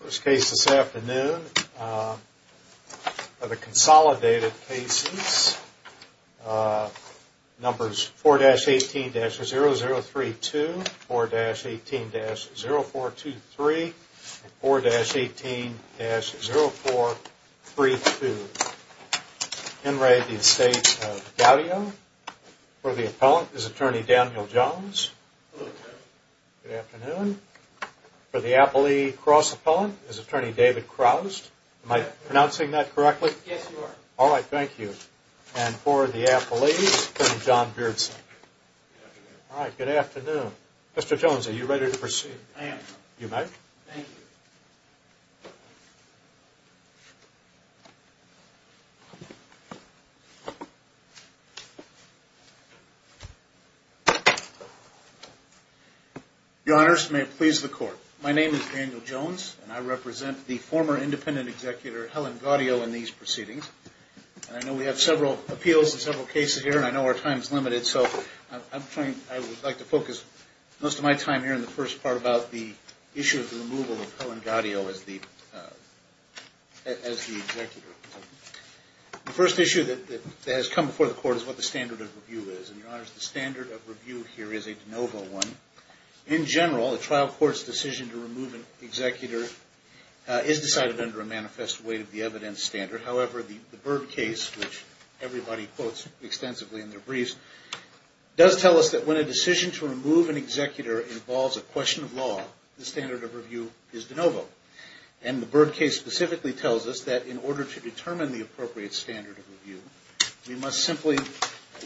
First case this afternoon of the consolidated cases Numbers 4 dash 18 dash 0 0 3 2 4 dash 18 dash 0 4 2 3 4 dash 18 dash 0 4 3 2 Enray the estate of Gaudio For the appellant is attorney Daniel Jones Good afternoon For the appellee cross appellant is attorney David Krauss my pronouncing that correctly. Yes. All right. Thank you And for the appellees from John Pearson All right. Good afternoon. Mr. Jones. Are you ready to proceed? I am you might The honors may it please the court My name is Daniel Jones and I represent the former independent executor Helen Gaudio in these proceedings And I know we have several appeals in several cases here and I know our times limited so I'm trying I would like to focus most of my time here in the first part about the issue of the removal of Helen Gaudio as the as the First issue that has come before the court is what the standard of review is and your honors the standard of review here is a DeNovo one in general the trial courts decision to remove an executor Is decided under a manifest way to the evidence standard. However, the the bird case which everybody quotes extensively in their briefs Does tell us that when a decision to remove an executor involves a question of law? The standard of review is DeNovo and the bird case specifically tells us that in order to determine the appropriate standard of review We must simply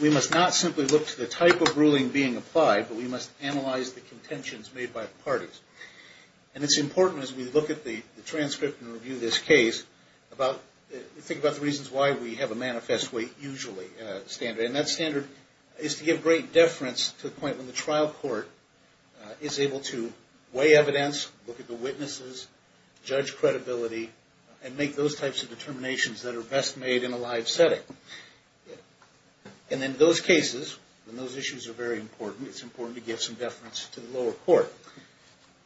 we must not simply look to the type of ruling being applied But we must analyze the contentions made by the parties and it's important as we look at the transcript and review this case About think about the reasons why we have a manifest way usually standard and that standard is to give great Deference to the point when the trial court Is able to weigh evidence look at the witnesses Judge credibility and make those types of determinations that are best made in a live setting And in those cases when those issues are very important. It's important to give some deference to the lower court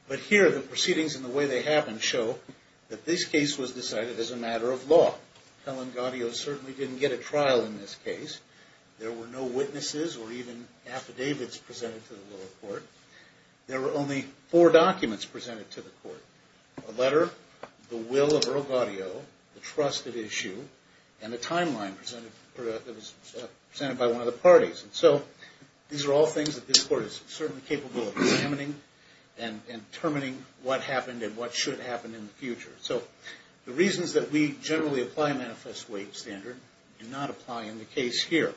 But here the proceedings in the way they happen show that this case was decided as a matter of law Helen Gaudio certainly didn't get a trial in this case. There were no witnesses or even Affidavits presented to the lower court. There were only four documents presented to the court a letter The will of Earl Gaudio the trusted issue and the timeline presented presented by one of the parties and so these are all things that this court is certainly capable of examining and Determining what happened and what should happen in the future? So the reasons that we generally apply manifest weight standard do not apply in the case here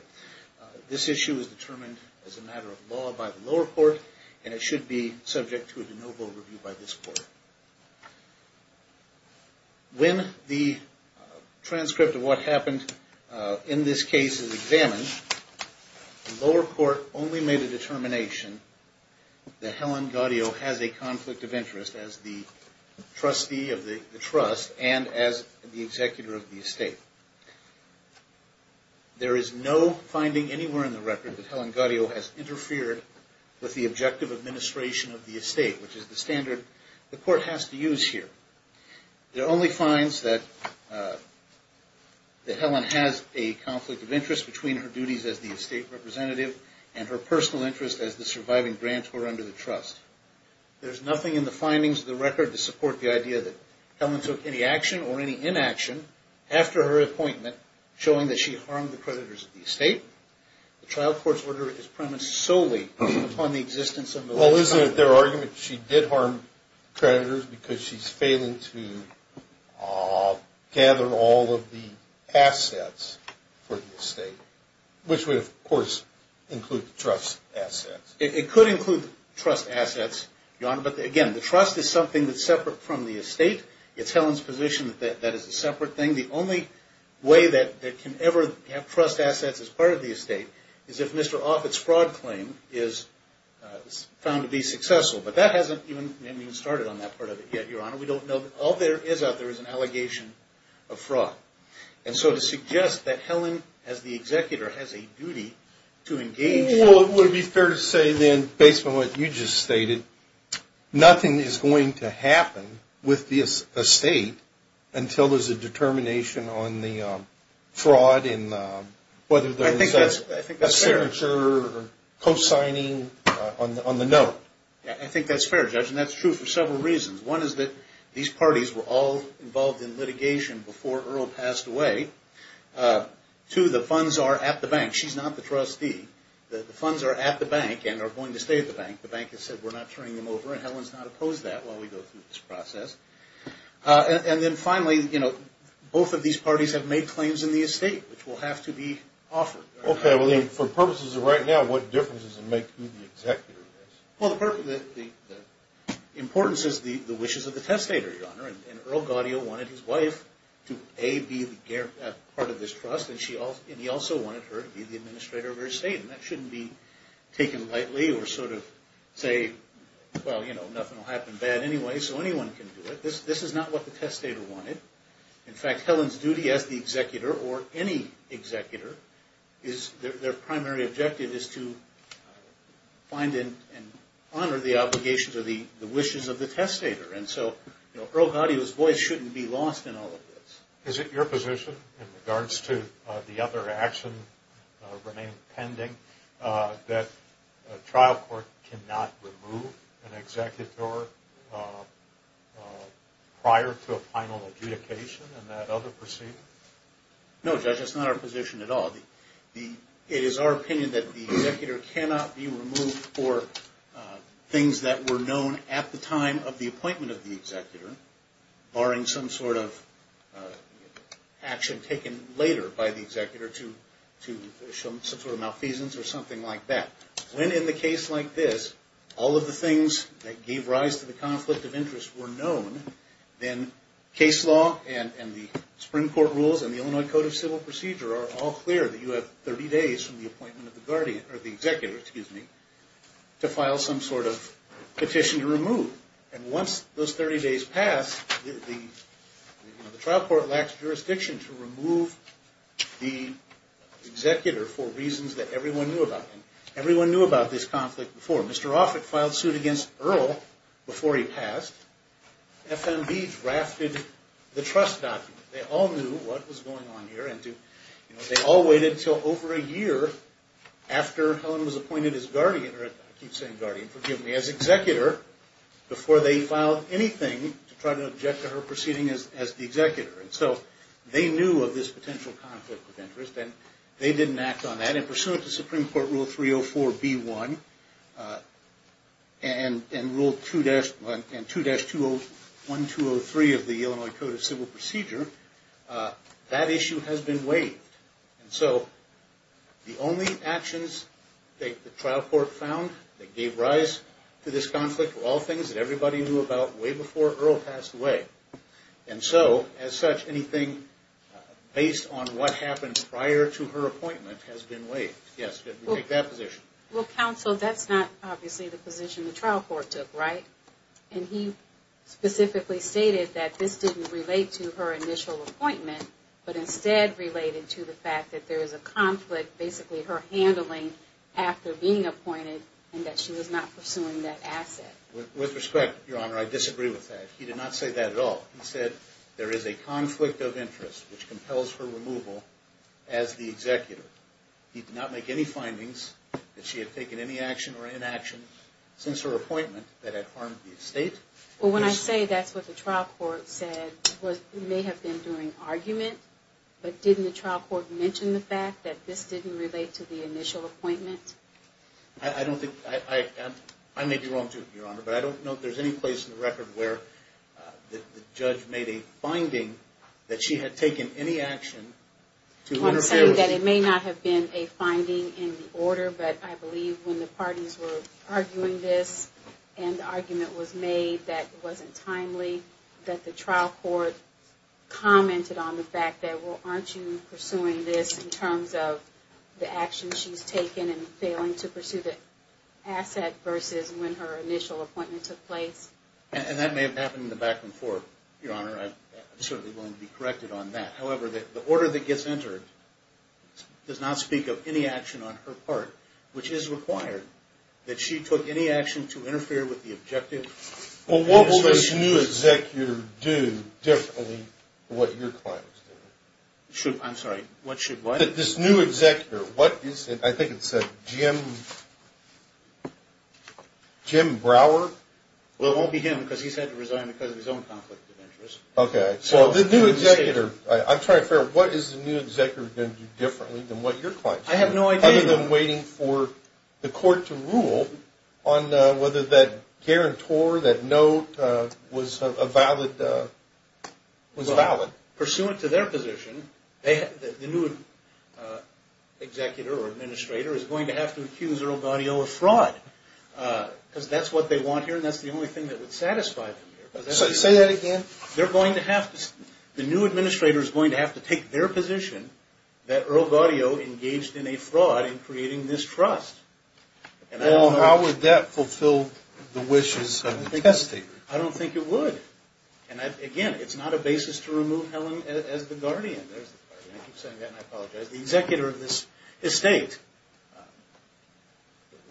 This issue is determined as a matter of law by the lower court, and it should be subject to a DeNovo review by this court When the Transcript of what happened in this case is examined lower court only made a determination that Helen Gaudio has a conflict of interest as the trustee of the trust and as the executor of the estate There is no finding anywhere in the record that Helen Gaudio has interfered with the objective administration of the estate Which is the standard the court has to use here? it only finds that The Helen has a conflict of interest between her duties as the estate representative and her personal interest as the surviving grants were under the trust There's nothing in the findings of the record to support the idea that Helen took any action or any inaction After her appointment showing that she harmed the creditors of the estate The trial court's order is premised solely upon the existence of well isn't it their argument. She did harm Creditors because she's failing to Gather all of the assets for the estate Which would of course include the trust assets it could include trust assets your honor But again the trust is something that's separate from the estate. It's Helen's position that that is a separate thing the only Way that that can ever have trust assets as part of the estate is if mr.. Offits fraud claim is Found to be successful, but that hasn't even started on that part of it yet, your honor We don't know all there is out there is an allegation of fraud And so to suggest that Helen as the executor has a duty to engage Well, it would be fair to say then based on what you just stated Nothing is going to happen with this estate until there's a determination on the fraud in Whether there's a signature Post signing on the note I think that's fair judge, and that's true for several reasons one is that these parties were all involved in litigation before Earl passed away To the funds are at the bank She's not the trustee The funds are at the bank and are going to stay at the bank the bank has said we're not turning them over and Helen's not Opposed that while we go through this process And then finally you know both of these parties have made claims in the estate which will have to be offered Okay, I believe for purposes of right now. What difference does it make to the executor well the Importance is the the wishes of the testator your honor and Earl Gaudio wanted his wife to a be the part of this trust and she all and he also wanted her to be the administrator of her estate and that shouldn't be Taken lightly or sort of say well. You know nothing will happen bad anyway, so anyone can do it This this is not what the testator wanted in fact Helen's duty as the executor or any Executor is their primary objective is to Find in and honor the obligations of the the wishes of the testator and so you know Earl Gaudio's voice shouldn't be lost in all Of this is it your position in regards to the other action remain pending that a trial court cannot remove an executor Prior to a final adjudication and that other proceed No judge, it's not our position at all the the it is our opinion that the executor cannot be removed for things that were known at the time of the appointment of the executor barring some sort of Action taken later by the executor to to show some sort of malfeasance or something like that When in the case like this all of the things that gave rise to the conflict of interest were known Then case law and and the Supreme Court rules and the Illinois Code of Civil Procedure are all clear that you have 30 days from the appointment of the guardian or the executor excuse me to file some sort of petition to remove and once those 30 days pass the trial court lacks jurisdiction to remove the Executor for reasons that everyone knew about him everyone knew about this conflict before mr. Offit filed suit against Earl before he passed FMV drafted the trust document they all knew what was going on here, and do you know they all waited till over a year after? Helen was appointed as guardian or it keeps saying guardian forgive me as executor Before they filed anything to try to object to her proceeding as the executor and so they knew of this potential Interest and they didn't act on that in pursuant to Supreme Court rule 304 b1 and Rule 2-1 and 2-2 1203 of the Illinois Code of Civil Procedure That issue has been waived and so the only actions They trial court found that gave rise to this conflict for all things that everybody knew about way before Earl passed away And so as such anything Based on what happened prior to her appointment has been waived yes Well counsel that's not obviously the position the trial court took right and he Specifically stated that this didn't relate to her initial appointment But instead related to the fact that there is a conflict basically her handling After being appointed and that she was not pursuing that asset with respect your honor. I disagree with that He did not say that at all. He said there is a conflict of interest which compels for removal as the executor He did not make any findings that she had taken any action or inaction since her appointment that had harmed the estate Well when I say that's what the trial court said was may have been doing argument But didn't the trial court mentioned the fact that this didn't relate to the initial appointment. I Don't think I am I may be wrong to your honor, but I don't know if there's any place in the record where The judge made a finding that she had taken any action To say that it may not have been a finding in the order But I believe when the parties were arguing this and the argument was made that wasn't timely that the trial court commented on the fact that well aren't you pursuing this in terms of the action she's taken and failing to pursue the Asset versus when her initial appointment took place and that may have happened in the back and forth your honor Certainly going to be corrected on that however that the order that gets entered Does not speak of any action on her part which is required that she took any action to interfere with the objective Well, what will this new executor do differently what your clients? Should I'm sorry what should what this new executor? What is it? I think it's a Jim Jim Brower Well it won't be him because he's had to resign because of his own conflict of interest okay, so the new executor I'm trying to figure out. What is the new executor going to do differently than what your point? I have no idea than waiting for the court to rule on Whether that guarantor that note was a valid Was valid pursuant to their position. They had the new Executor or administrator is going to have to accuse Earl Gaudio of fraud Because that's what they want here, and that's the only thing that would satisfy Say that again They're going to have the new administrator is going to have to take their position That Earl Gaudio engaged in a fraud in creating this trust And I don't know how would that fulfill the wishes of the testator? I don't think it would and again. It's not a basis to remove Helen as the guardian Executor of this estate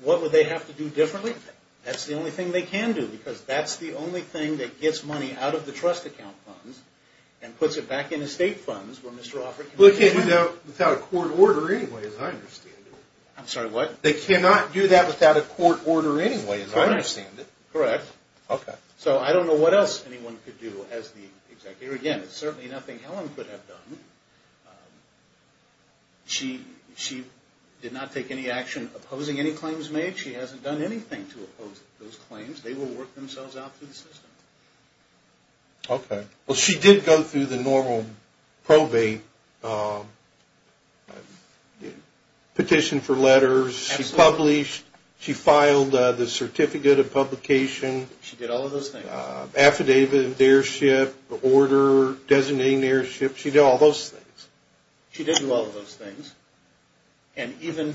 What would they have to do differently that's the only thing they can do because that's the only thing that gets money out of the trust Account funds and puts it back in estate funds where Mr.. Offer look at you know without a court order anyway as I understand I'm sorry what they cannot do that without a court order anyway, and I understand it correct, okay? So I don't know what else anyone could do as the executor again. It's certainly nothing Helen could have done She she did not take any action opposing any claims made she hasn't done anything to oppose those claims They will work themselves out through the system Okay, well she did go through the normal probate Petition for letters she's published she filed the certificate of publication She did all of those things Affidavit of dearship the order designating the airship. She did all those things. She didn't love those things and Even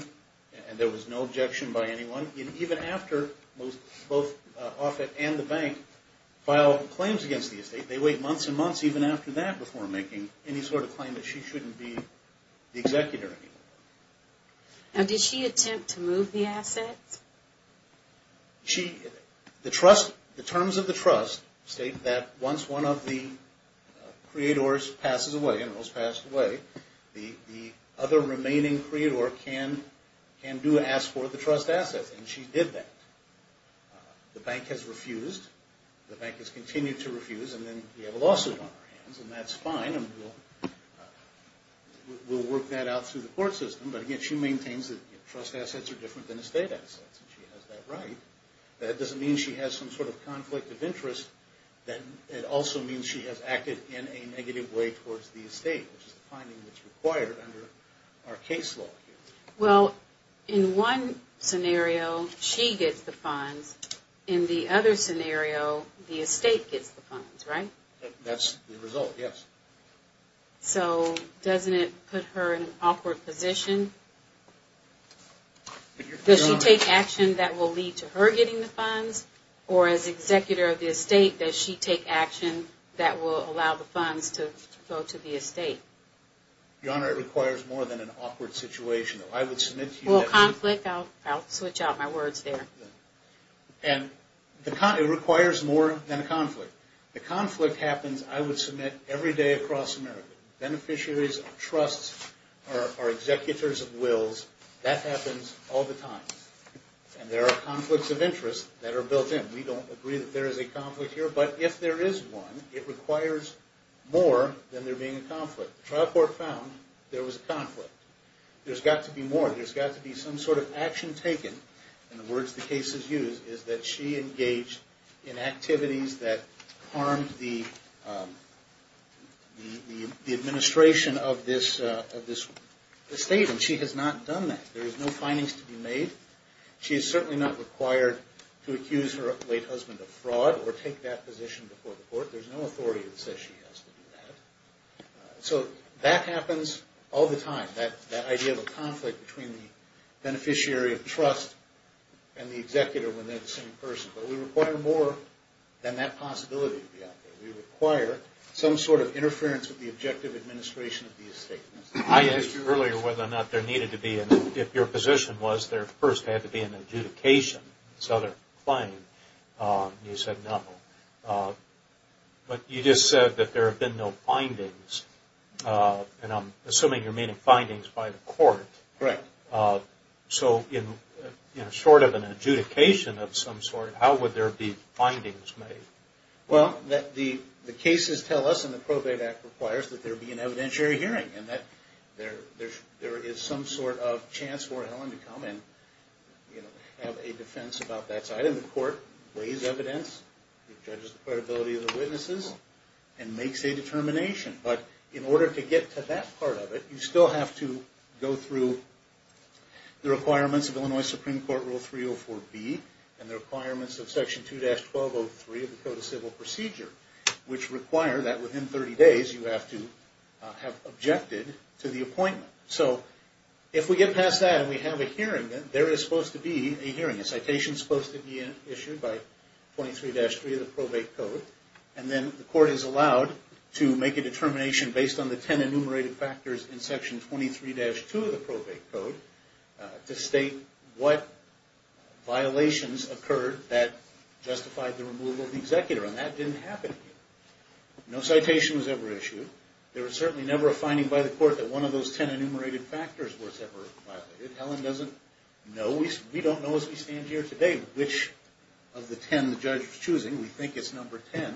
and there was no objection by anyone even after most both off it and the bank File claims against the estate they wait months and months even after that before making any sort of claim that she shouldn't be executor And did she attempt to move the assets? She the trust the terms of the trust state that once one of the Creators passes away, and it was passed away the other remaining creator can and do ask for the trust assets And she did that The bank has refused the bank has continued to refuse and then we have a lawsuit on her hands, and that's fine We'll Work that out through the court system, but again. She maintains that trust assets are different than estate assets And she has that right that doesn't mean she has some sort of conflict of interest Then it also means she has acted in a negative way towards the estate required under our case law well in one Scenario she gets the funds in the other scenario the estate gets the funds right that's the result yes So doesn't it put her in an awkward position? Does she take action that will lead to her getting the funds or as Executor of the estate that she take action that will allow the funds to go to the estate Your honor it requires more than an awkward situation. I would submit to a conflict out. I'll switch out my words there And the kind of requires more than a conflict the conflict happens, I would submit every day across America beneficiaries of trusts are Executors of wills that happens all the time And there are conflicts of interest that are built in we don't agree that there is a conflict here But if there is one it requires More than there being a conflict trial court found there was a conflict There's got to be more there's got to be some sort of action taken and the words the case is used is that she engaged in activities that harmed the Administration of this of this Statement she has not done that there is no findings to be made She is certainly not required to accuse her late husband of fraud or take that position before the court There's no authority that says she has So that happens all the time that that idea of a conflict between the Beneficiary of trust and the executor when they're the same person, but we require more than that possibility Yeah, we require some sort of interference with the objective administration of these statements I asked you earlier whether or not there needed to be and if your position was there first had to be an adjudication Southern claim You said no But you just said that there have been no findings And I'm assuming you're meaning findings by the court, right? So in you know short of an adjudication of some sort, how would there be findings made? well that the the cases tell us and the probate act requires that there be an evidentiary hearing and that There there is some sort of chance for Helen to come in You know have a defense about that side of the court raise evidence credibility of the witnesses and Makes a determination, but in order to get to that part of it. You still have to go through the requirements of Illinois Supreme Court rule 304 B and the requirements of section 2-12 Oh three of the Code of Civil Procedure Which require that within 30 days you have to have objected to the appointment So if we get past that and we have a hearing that there is supposed to be a hearing a citation supposed to be an issue 23-3 of the probate code and then the court is allowed to make a determination based on the 10 enumerated factors in section 23-2 of the probate code to state what violations occurred that Justified the removal of the executor and that didn't happen No citation was ever issued There was certainly never a finding by the court that one of those 10 enumerated factors was ever violated Helen doesn't know we don't know as we stand here today, which of the 10 the judge is choosing we think it's number 10,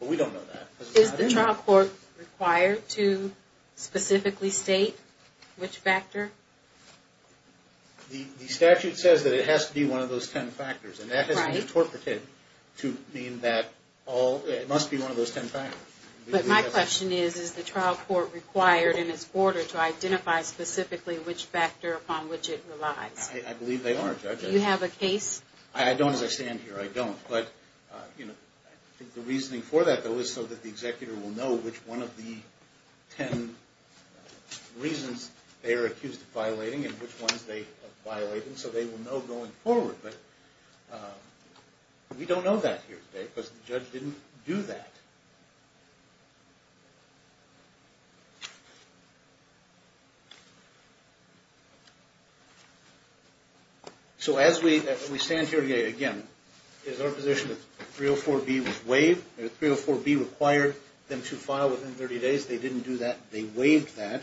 but we don't know that. Is the trial court required to specifically state which factor The statute says that it has to be one of those 10 factors and that has been Interpreted to mean that all it must be one of those 10 factors But my question is is the trial court required in its order to identify specifically which factor upon which it relies You have a case I don't understand here I don't but you know I think the reasoning for that though is so that the executor will know which one of the 10 Reasons they are accused of violating and which ones they violating so they will know going forward, but We don't know that here today because the judge didn't do that So as we we stand here again is our position of 304 B Was waived their 304 B required them to file within 30 days. They didn't do that. They waived that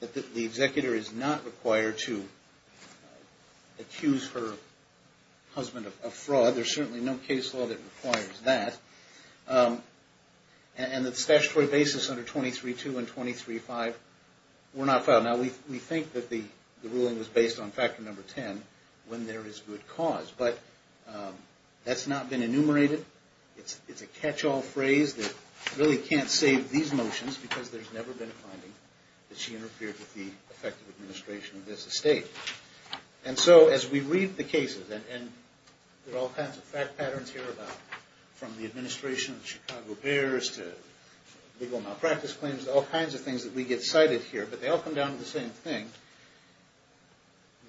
That the executor is not required to Accuse her husband of fraud there's certainly no case law that requires that And that statutory basis under 23 2 and 23 5 We're not filed now. We think that the ruling was based on factor number 10 when there is good cause but That's not been enumerated It's it's a catch-all phrase that really can't save these motions because there's never been a finding that she interfered with the effective administration of this estate and so as we read the cases and There all kinds of fact patterns here about from the administration of Chicago Bears to Legal malpractice claims all kinds of things that we get cited here, but they all come down to the same thing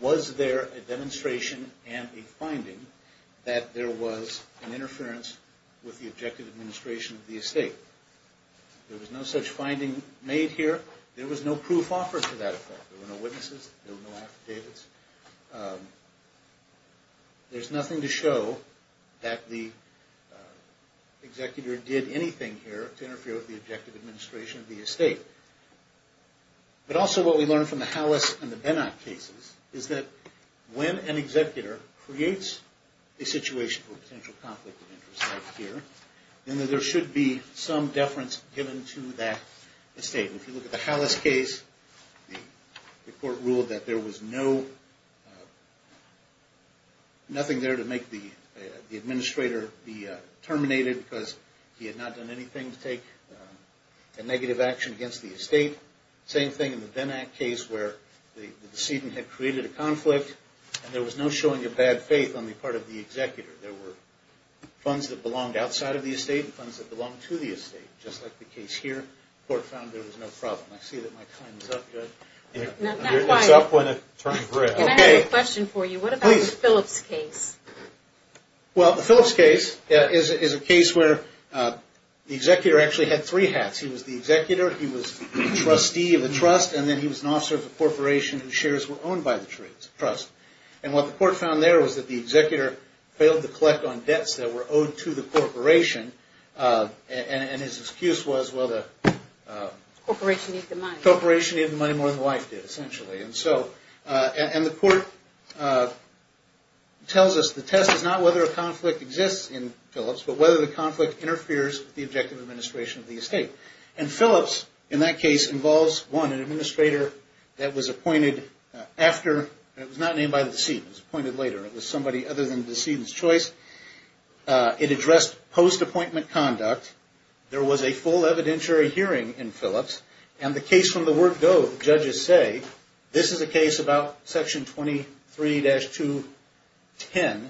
Was there a demonstration and a finding that there was an interference with the objective administration of the estate There was no such finding made here. There was no proof offers to that effect. There were no witnesses. There were no affidavits There's nothing to show that the Executor did anything here to interfere with the objective administration of the estate But also what we learned from the house and the Benak cases is that when an executor creates a situation Then there should be some deference given to that estate if you look at the house case The court ruled that there was no Nothing there to make the administrator be Terminated because he had not done anything to take a negative action against the estate Same thing in the Benak case where the the decedent had created a conflict And there was no showing a bad faith on the part of the executor there were Funds that belonged outside of the estate and funds that belong to the estate just like the case here Court found there was no problem. I see that my time is up good For you, what about the Phillips case Well the Phillips case is a case where? The executor actually had three hats. He was the executor He was the trustee of the trust and then he was an officer of the corporation and shares were owned by the trades trust And what the court found there was that the executor failed to collect on debts that were owed to the corporation And his excuse was well the Corporation corporation even money more than wife did essentially and so and the court Tells us the test is not whether a conflict exists in Phillips But whether the conflict interferes with the objective administration of the estate and Phillips in that case involves one an administrator That was appointed after it was not named by the seat was appointed later. It was somebody other than the seeds choice It addressed post appointment conduct There was a full evidentiary hearing in Phillips and the case from the word go judges say this is a case about section 23 dash 210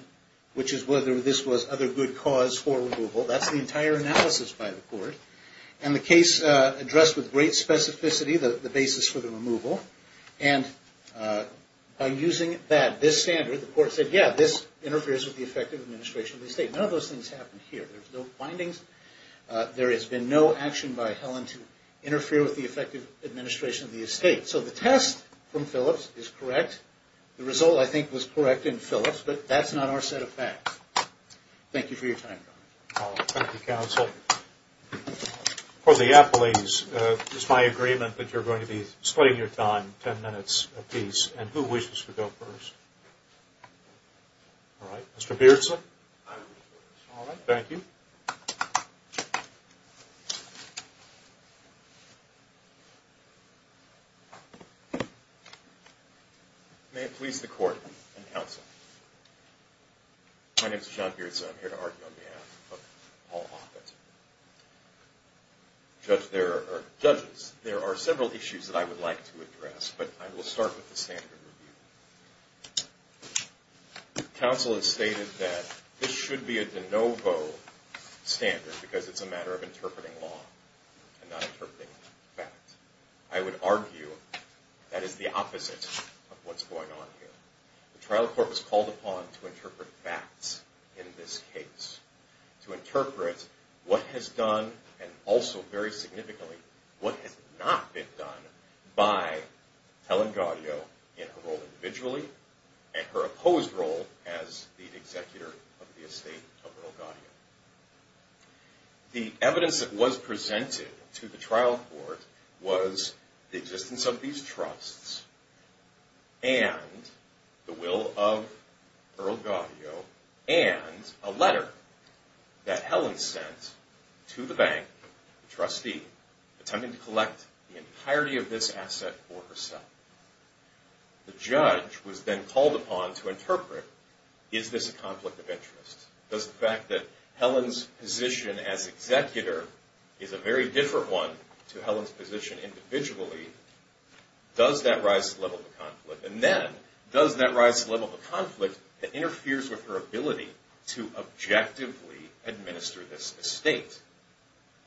which is whether this was other good cause for removal that's the entire analysis by the court and the case addressed with great specificity the the basis for the removal and By using that this standard the court said yeah this interferes with the effective administration of the state none of those things happen here There's no findings There has been no action by Helen to interfere with the effective administration of the estate So the test from Phillips is correct. The result I think was correct in Phillips, but that's not our set of facts Thank you for your time Counsel For the Apple a's is my agreement that you're going to be splitting your time ten minutes a piece and who wishes to go first Alright mr. Pearson Thank you May it please the court and counsel My name is John Pearson here to argue on behalf Office Judge there are judges there are several issues that I would like to address, but I will start with the standard review Counsel has stated that this should be at the Novo Standard because it's a matter of interpreting law and not interpreting fact. I would argue That is the opposite of what's going on here the trial court was called upon to interpret facts in this case to interpret what has done and also very significantly what has not been done by Helen Gaudio in a role individually and her opposed role as the executor of the estate of Earl Gaudio The evidence that was presented to the trial court was the existence of these trusts and The will of And a letter That Helen sent to the bank trustee Attempting to collect the entirety of this asset for herself The judge was then called upon to interpret is this a conflict of interest does the fact that Helen's Position as executor is a very different one to Helen's position individually Does that rise to the level of a conflict and then does that rise to the level of a conflict that interferes with her ability to objectively administer this estate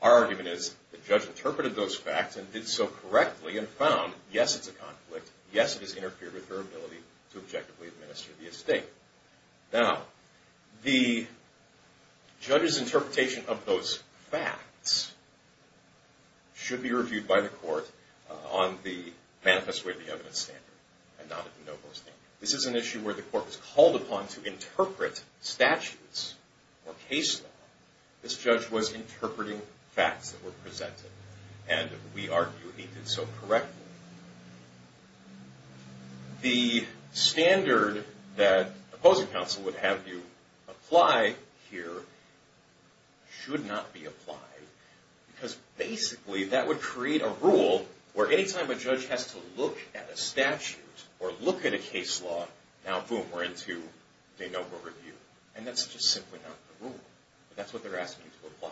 Argument is the judge interpreted those facts and did so correctly and found yes, it's a conflict Yes, it has interfered with her ability to objectively administer the estate now the Judge's interpretation of those facts Should be reviewed by the court on the manifest way of the evidence standard and not at the no-go stand This is an issue where the court was called upon to interpret statutes or case law this judge was interpreting facts that were presented and We argue he did so correctly The standard that opposing counsel would have you apply here Should not be applied Because basically that would create a rule where anytime a judge has to look at a statute or look at a case law Now boom we're into a no-go review, and that's just simply not the rule. That's what they're asking you to apply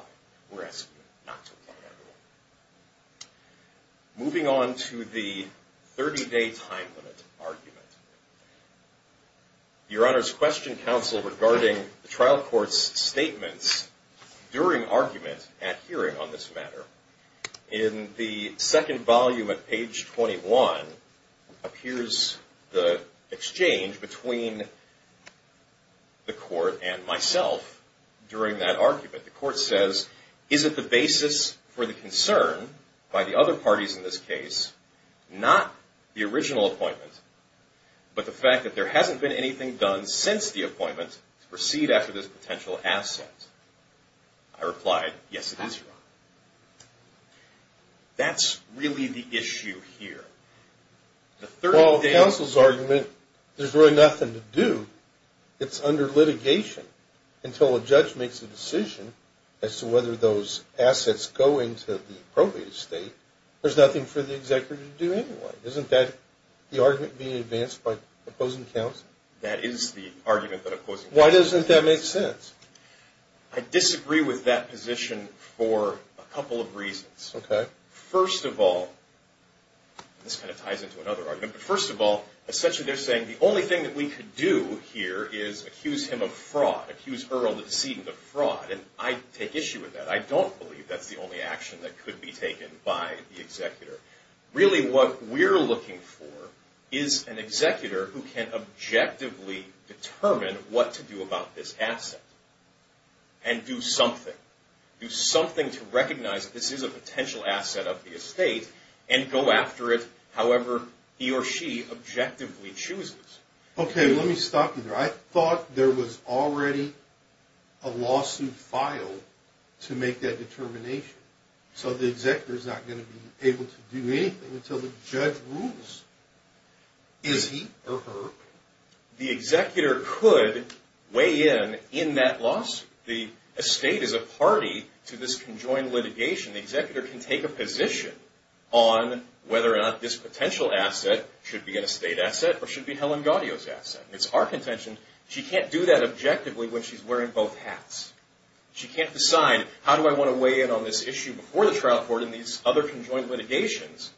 Moving on to the 30-day time limit argument Your honor's question counsel regarding the trial courts statements During arguments at hearing on this matter in the second volume at page 21 appears the exchange between The court and myself During that argument the court says is it the basis for the concern by the other parties in this case? Not the original appointment But the fact that there hasn't been anything done since the appointment to proceed after this potential asset I Replied yes, it is That's really the issue here The third all counsel's argument. There's really nothing to do It's under litigation Until a judge makes a decision as to whether those assets go into the appropriate state There's nothing for the executive to do anyway isn't that the argument being advanced by opposing counsel That is the argument that of course. Why doesn't that make sense I? Disagree with that position for a couple of reasons okay first of all This kind of ties into another argument first of all essentially They're saying the only thing that we could do here is accuse him of fraud accuse Earl the decedent of fraud I'd take issue with that. I don't believe that's the only action that could be taken by the executor Really what we're looking for is an executor who can? objectively determine what to do about this asset and Do something do something to recognize this is a potential asset of the estate and go after it however He or she objectively chooses, okay? Let me stop here. I thought there was already a Lawsuit file to make that determination So the executor is not going to be able to do anything until the judge rules Is he or her? the executor could Weigh in in that loss the estate is a party to this conjoined litigation the executor can take a position on Whether or not this potential asset should be an estate asset or should be Helen Gaudio's asset. It's our contention She can't do that objectively when she's wearing both hats She can't decide how do I want to weigh in on this issue before the trial court in these other conjoined litigations?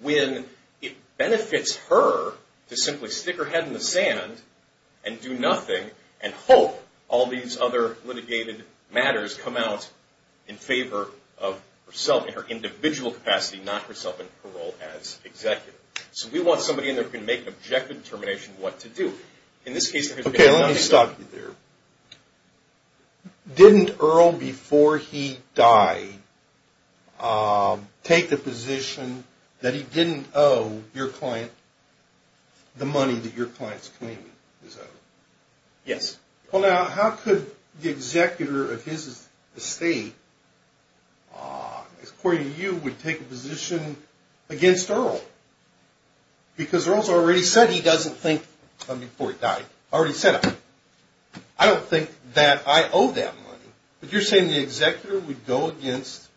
when it benefits her to simply stick her head in the sand and Do nothing and hope all these other litigated matters come out in favor of? Herself in her individual capacity not herself in parole as executive So we want somebody in there can make an objective determination what to do in this case, okay, let me stop you there Didn't Earl before he died Take the position that he didn't owe your client The money that your clients clean is over. Yes. Well now how could the executor of his estate? As according to you would take a position Against Earl Because Earl's already said he doesn't think before he died already set up. I Don't think that I owe them, but you're saying the executor would go against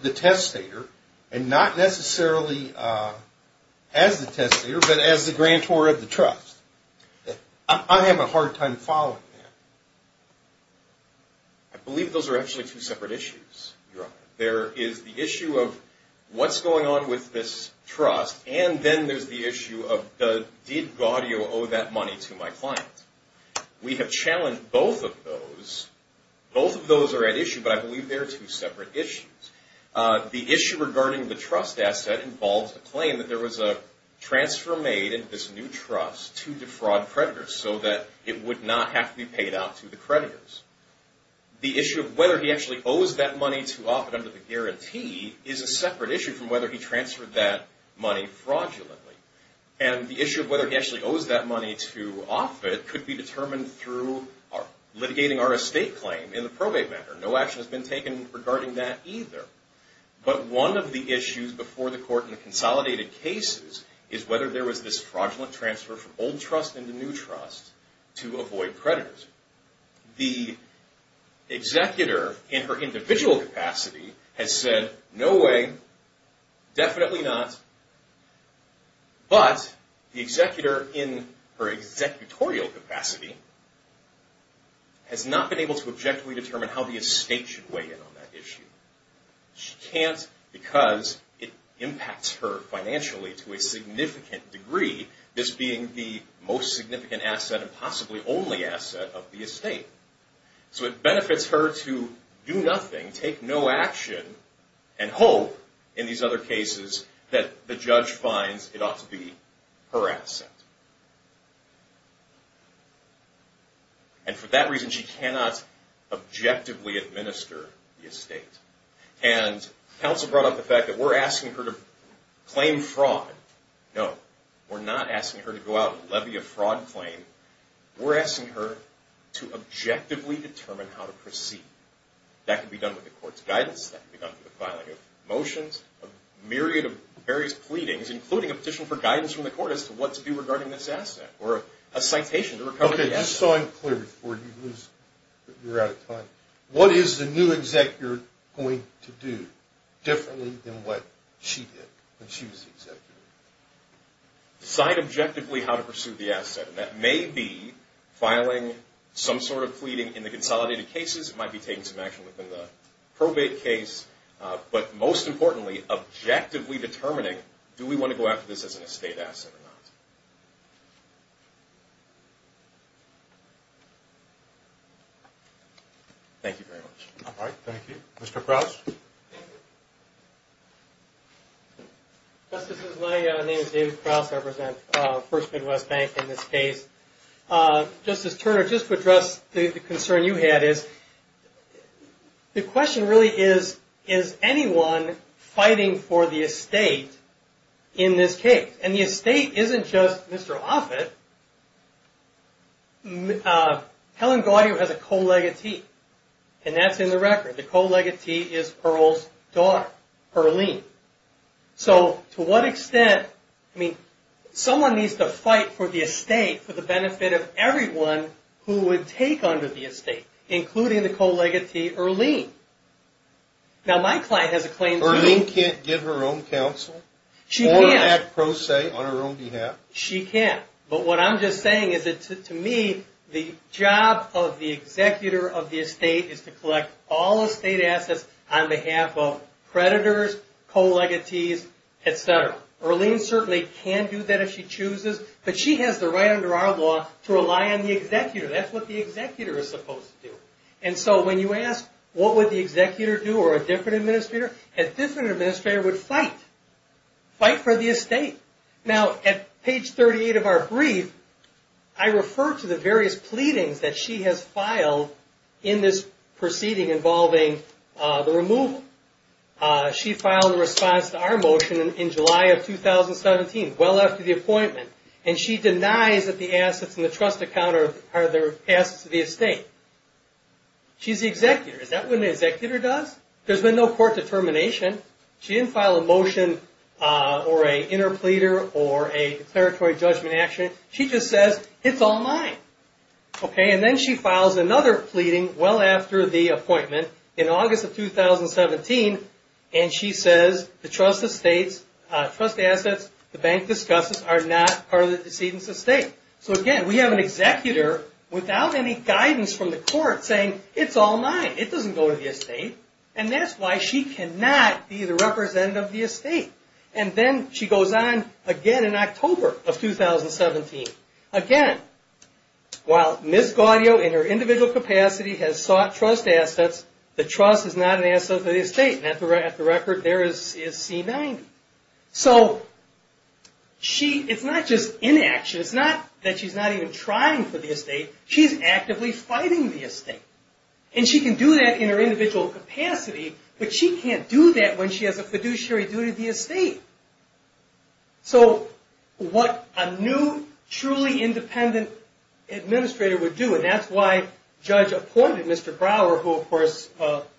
the testator and not necessarily As the testator, but as the grantor of the trust I Have a hard time following that I Trust We have challenged both of those Both of those are at issue, but I believe there are two separate issues the issue regarding the trust asset involves the claim that there was a Transfer made in this new trust to defraud predators so that it would not have to be paid out to the creditors The issue of whether he actually owes that money to off it under the guarantee is a separate issue from whether he transferred that money fraudulently and the issue of whether he actually owes that money to Offit could be determined through our litigating our estate claim in the probate matter. No action has been taken regarding that either But one of the issues before the court and consolidated cases is whether there was this fraudulent transfer from old trust in the new trust to avoid predators the Executor in her individual capacity has said no way definitely not But the executor in her executorial capacity Has not been able to objectively determine how the estate should weigh in on that issue She can't because it impacts her financially to a significant degree This being the most significant asset and possibly only asset of the estate so it benefits her to do nothing take no action and Hope in these other cases that the judge finds it ought to be her asset And for that reason she cannot objectively administer the estate and Counsel brought up the fact that we're asking her to claim fraud. No, we're not asking her to go out and levy a fraud claim We're asking her to objectively determine how to proceed that could be done with the court's guidance that we got the filing of motions a Myriad of various pleadings including a petition for guidance from the court as to what to do regarding this asset or a citation to recover Yes, so I'm clear before you lose You're out of time. What is the new executor going to do differently than what she did when she was the executor? Decide objectively how to pursue the asset and that may be Filing some sort of pleading in the consolidated cases. It might be taking some action within the probate case but most importantly Objectively determining do we want to go after this as an estate asset or not? Thank you very much. All right. Thank you. Mr. Krause Justices, my name is David Krause, I represent First Midwest Bank in this case. Justice Turner, just to address the concern you had is The question really is is anyone fighting for the estate in this case and the estate isn't just Mr. Offit Helen Gaudio has a co-legatee and that's in the record. The co-legatee is Earl's daughter, Earlene So to what extent I mean Someone needs to fight for the estate for the benefit of everyone who would take under the estate including the co-legatee Earlene Now my client has a claim. Earlene can't give her own counsel She can't. Or act pro se on her own behalf. She can but what I'm just saying is that to me the job of the Executor of the estate is to collect all estate assets on behalf of creditors Co-legatees, etc. Earlene certainly can do that if she chooses, but she has the right under our law to rely on the executor That's what the executor is supposed to do And so when you ask what would the executor do or a different administrator, a different administrator would fight Fight for the estate. Now at page 38 of our brief I refer to the various pleadings that she has filed in this proceeding involving the removal She filed a response to our motion in July of 2017 well after the appointment and she denies that the assets in the trust account are the assets of the estate She's the executor. Is that what an executor does? There's been no court determination She didn't file a motion Or a inner pleader or a declaratory judgment action. She just says it's all mine Okay, and then she files another pleading well after the appointment in August of 2017 and she says the trust estates Trust assets the bank discusses are not part of the decedent's estate. So again We have an executor without any guidance from the court saying it's all mine It doesn't go to the estate and that's why she cannot be the representative of the estate And then she goes on again in October of 2017 again While Miss Gaudio in her individual capacity has sought trust assets The trust is not an asset of the estate and at the record there is is C-90 so She it's not just inaction. It's not that she's not even trying for the estate She's actively fighting the estate and she can do that in her individual capacity But she can't do that when she has a fiduciary duty the estate so What a new truly independent? Administrator would do and that's why judge appointed. Mr. Brower who of course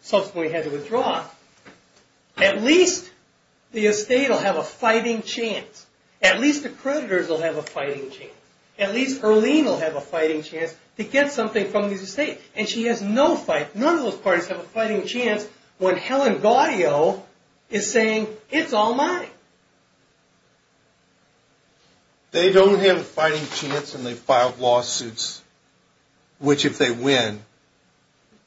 subsequently had to withdraw at least The estate will have a fighting chance at least the creditors will have a fighting chance at least Perlino have a fighting chance to get something from these estate and she has no fight none of those parties have a fighting chance When Helen Gaudio is saying it's all mine They don't have a fighting chance and they filed lawsuits Which if they win?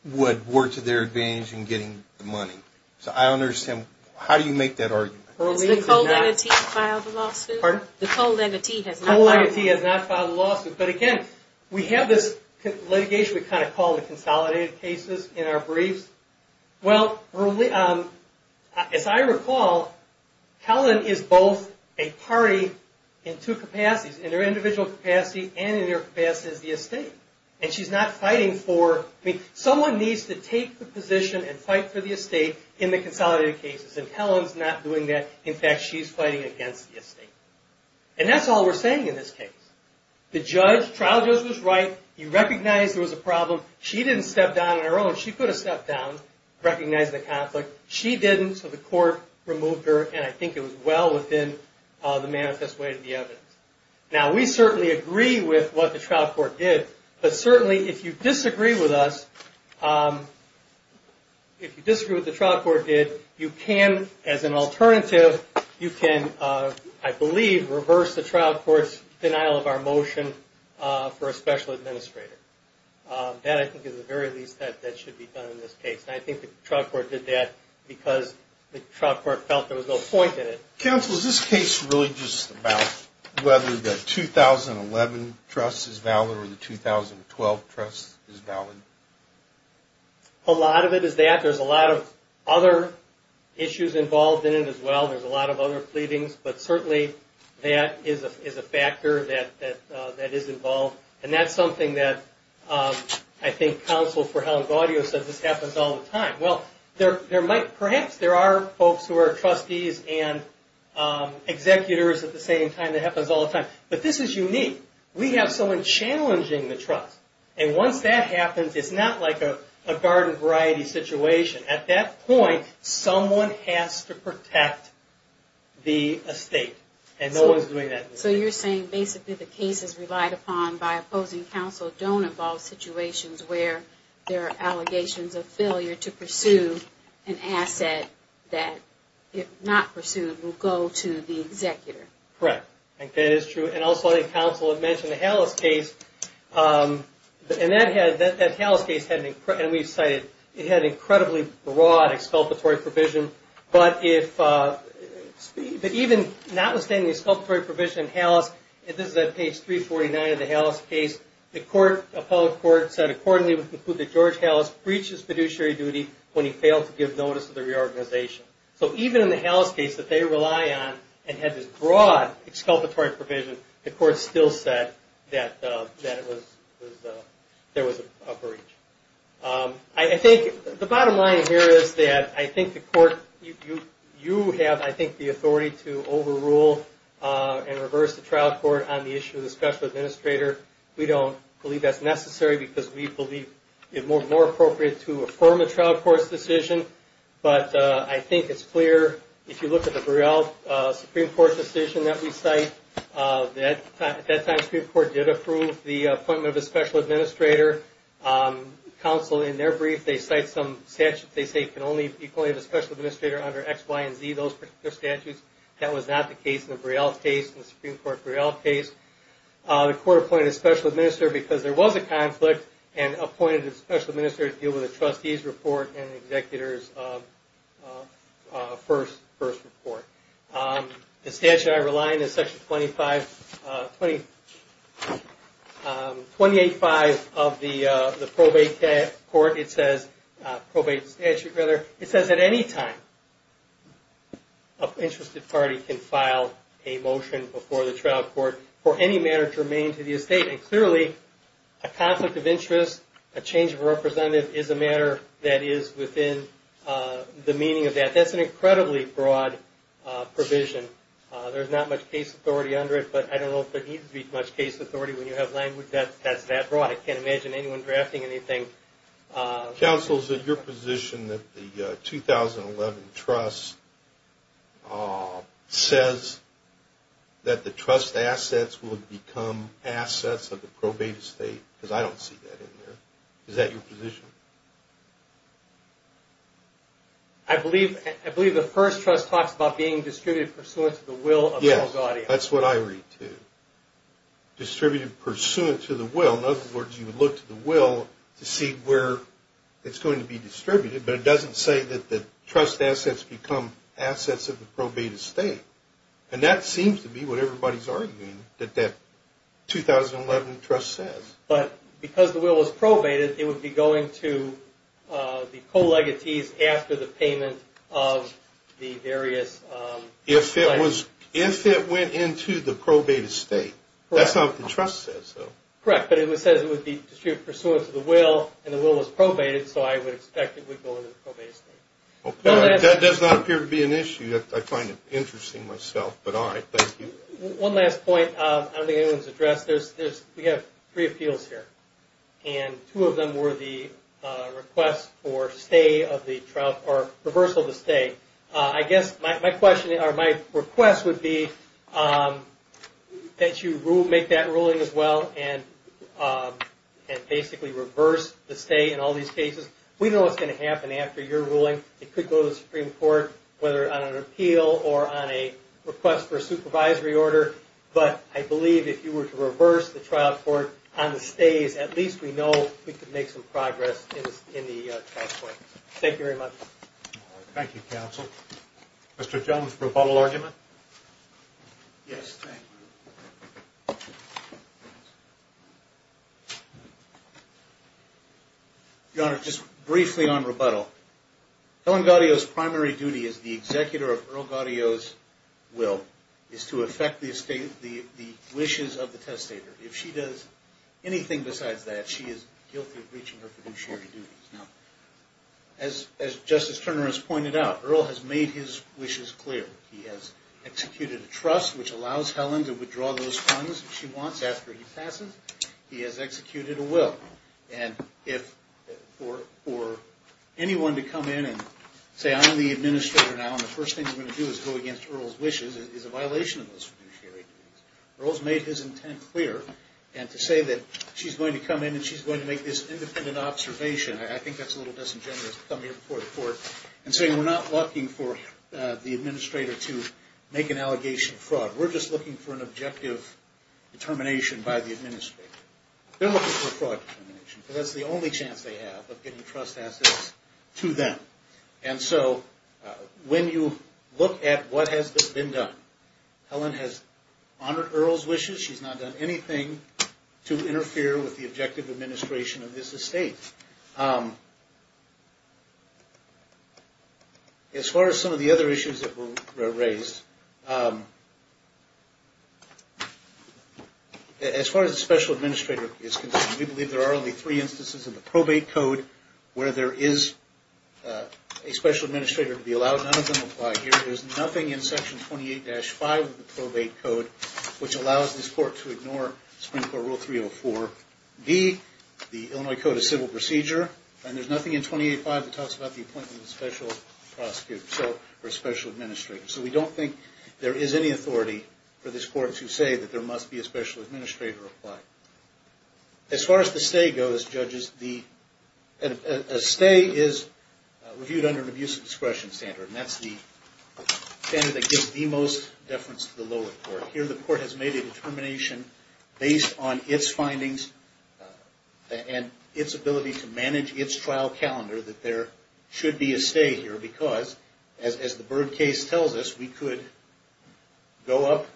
Would work to their advantage in getting the money. So I understand. How do you make that argument? File the lawsuit or the cold entity has no idea if he has not filed a lawsuit But again, we have this litigation. We kind of call the consolidated cases in our briefs well As I recall Helen is both a party in two capacities in their individual capacity and in their past as the estate and she's not fighting for I mean someone needs to take the position and fight for the estate in the consolidated cases and Helen's not doing that In fact, she's fighting against the estate and that's all we're saying in this case The judge trial judge was right. You recognize there was a problem. She didn't step down on her own She could have stepped down Recognize the conflict she didn't so the court removed her and I think it was well within The manifest way to the evidence now, we certainly agree with what the trial court did but certainly if you disagree with us If you disagree with the trial court did you can as an alternative you can I believe reverse the trial courts denial of our motion for a special administrator That I think is the very least that that should be done in this case I think the trial court did that because the trial court felt there was no point in it counsel Is this case really just about whether the 2011 trust is valid or the 2012 trust is valid? A lot of it is that there's a lot of other Issues involved in it as well. There's a lot of other pleadings, but certainly that is a factor that That is involved and that's something that I think counsel for how audio says this happens all the time well, there there might perhaps there are folks who are trustees and Executors at the same time that happens all the time, but this is unique We have someone challenging the trust and once that happens, it's not like a garden variety situation at that point Someone has to protect The estate and no one's doing that So you're saying basically the case is relied upon by opposing counsel don't involve situations where there are? allegations of failure to pursue an Asset that if not pursued will go to the executor, correct? Okay, it's true and also I think counsel have mentioned the house case And that has that that house case heading and we've cited it had incredibly broad exculpatory provision, but if But even not withstanding the exculpatory provision house If this is that page 349 of the house case the court a public court said accordingly We conclude that George house breaches fiduciary duty when he failed to give notice of the reorganization So even in the house case that they rely on and had this broad Exculpatory provision the court still said that that it was There was a breach I think the bottom line here is that I think the court you you have I think the authority to overrule And reverse the trial court on the issue of the special administrator We don't believe that's necessary because we believe it more more appropriate to affirm a trial court's decision But I think it's clear if you look at the Burrell Supreme Court decision that we cite That at that time Supreme Court did approve the appointment of a special administrator Counsel in their brief they cite some statutes They say can only equally the special administrator under XY and Z those Statutes that was not the case in the Burrell case in the Supreme Court Burrell case the court appointed a special administrator because there was a conflict and Appointed a special minister to deal with the trustees report and executors First first report the statute I rely in this section 25 20 285 of the the probate that court it says probate statute rather it says at any time a Interested party can file a motion before the trial court for any matter to remain to the estate and clearly a Interest a change of representative is a matter that is within The meaning of that that's an incredibly broad Provision there's not much case authority under it, but I don't know if there needs to be much case authority when you have language That that's that broad I can't imagine anyone drafting anything counsels that your position that the 2011 trust Says That the trust assets will become assets of the probate estate because I don't see that in there is that your position I Believe I believe the first trust talks about being distributed pursuant to the will of yes, that's what I read to Distributed pursuant to the will in other words you would look to the will to see where it's going to be distributed But it doesn't say that the trust assets become assets of the probate estate and that seems to be what everybody's arguing that that 2011 trust says but because the will was probated it would be going to the co-legatees after the payment of the various If it was if it went into the probate estate That's not the trust says so correct But it was says it would be distributed pursuant to the will and the will was probated So I would expect it would go into the probate estate Okay, that does not appear to be an issue that I find it interesting myself, but all right. Thank you one last point I don't think anyone's addressed. There's this we have three appeals here and two of them were the Requests for stay of the trial for reversal to stay I guess my question or my request would be That you rule make that ruling as well and Basically reverse the stay in all these cases we know what's going to happen after your ruling it could go to the Supreme Court whether on an appeal or on a Request for a supervisory order, but I believe if you were to reverse the trial court on the stays at least We know we could make some progress Thank you very much Thank You counsel mr.. Jones for a bottle argument You Honor just briefly on rebuttal Helen Gaudio's primary duty is the executor of Earl Gaudio's Will is to affect the estate the the wishes of the testator if she does Anything besides that she is guilty of breaching her fiduciary duties now As as justice Turner has pointed out Earl has made his wishes clear He has executed a trust which allows Helen to withdraw those funds if she wants after he passes He has executed a will and if for for Anyone to come in and say I'm the administrator now And the first thing I'm going to do is go against Earl's wishes is a violation of those fiduciary Earl's made his intent clear and to say that she's going to come in and she's going to make this independent observation I think that's a little disingenuous come here before the court and saying we're not looking for the administrator to make an allegation fraud We're just looking for an objective Determination by the administrator That's the only chance they have of getting trust assets to them and so When you look at what has this been done? Helen has honored Earl's wishes. She's not done anything to interfere with the objective administration of this estate As far as some of the other issues that were raised As far as the special administrator is concerned we believe there are only three instances of the probate code where there is a Special administrator to be allowed none of them apply here There's nothing in section 28-5 of the probate code which allows this court to ignore Supreme Court Rule 304 be the Illinois Code of Civil Procedure And there's nothing in 28-5 that talks about the appointment of a special prosecutor so for a special administrator So we don't think there is any authority for this court to say that there must be a special administrator As far as the stay goes judges the stay is reviewed under an abuse of discretion standard, and that's the Standard that gives the most deference to the lower court here the court has made a determination based on its findings and its ability to manage its trial calendar that there should be a stay here because as the Byrd case tells us we could Go up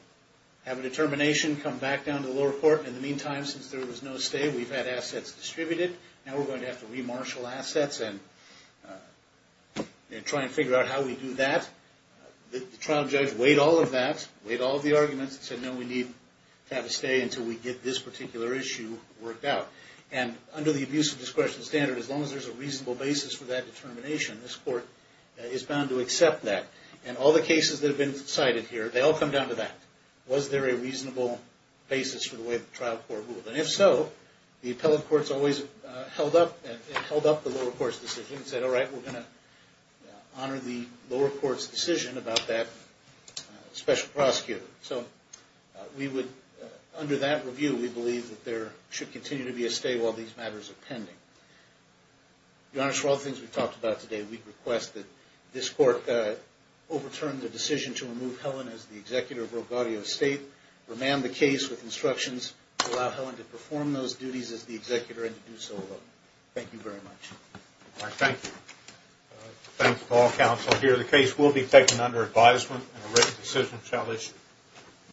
have a determination come back down to the lower court in the meantime since there was no stay We've had assets distributed now. We're going to have to remarshal assets and Try and figure out how we do that The trial judge weighed all of that weighed all the arguments and said no we need To have a stay until we get this particular issue Worked out and under the abuse of discretion standard as long as there's a reasonable basis for that determination this court Is bound to accept that and all the cases that have been cited here They all come down to that was there a reasonable basis for the way the trial court ruled and if so The appellate courts always held up and held up the lower courts decision and said all right. We're going to Honor the lower courts decision about that special prosecutor so We would under that review we believe that there should continue to be a stay while these matters are pending The honors for all things we've talked about today, we'd request that this court Overturned the decision to remove Helen as the executor of Rogotio State Remand the case with instructions to allow Helen to perform those duties as the executor and to do so alone. Thank you very much Thank you Thanks to all counsel here the case will be taken under advisement and a written decision shall issue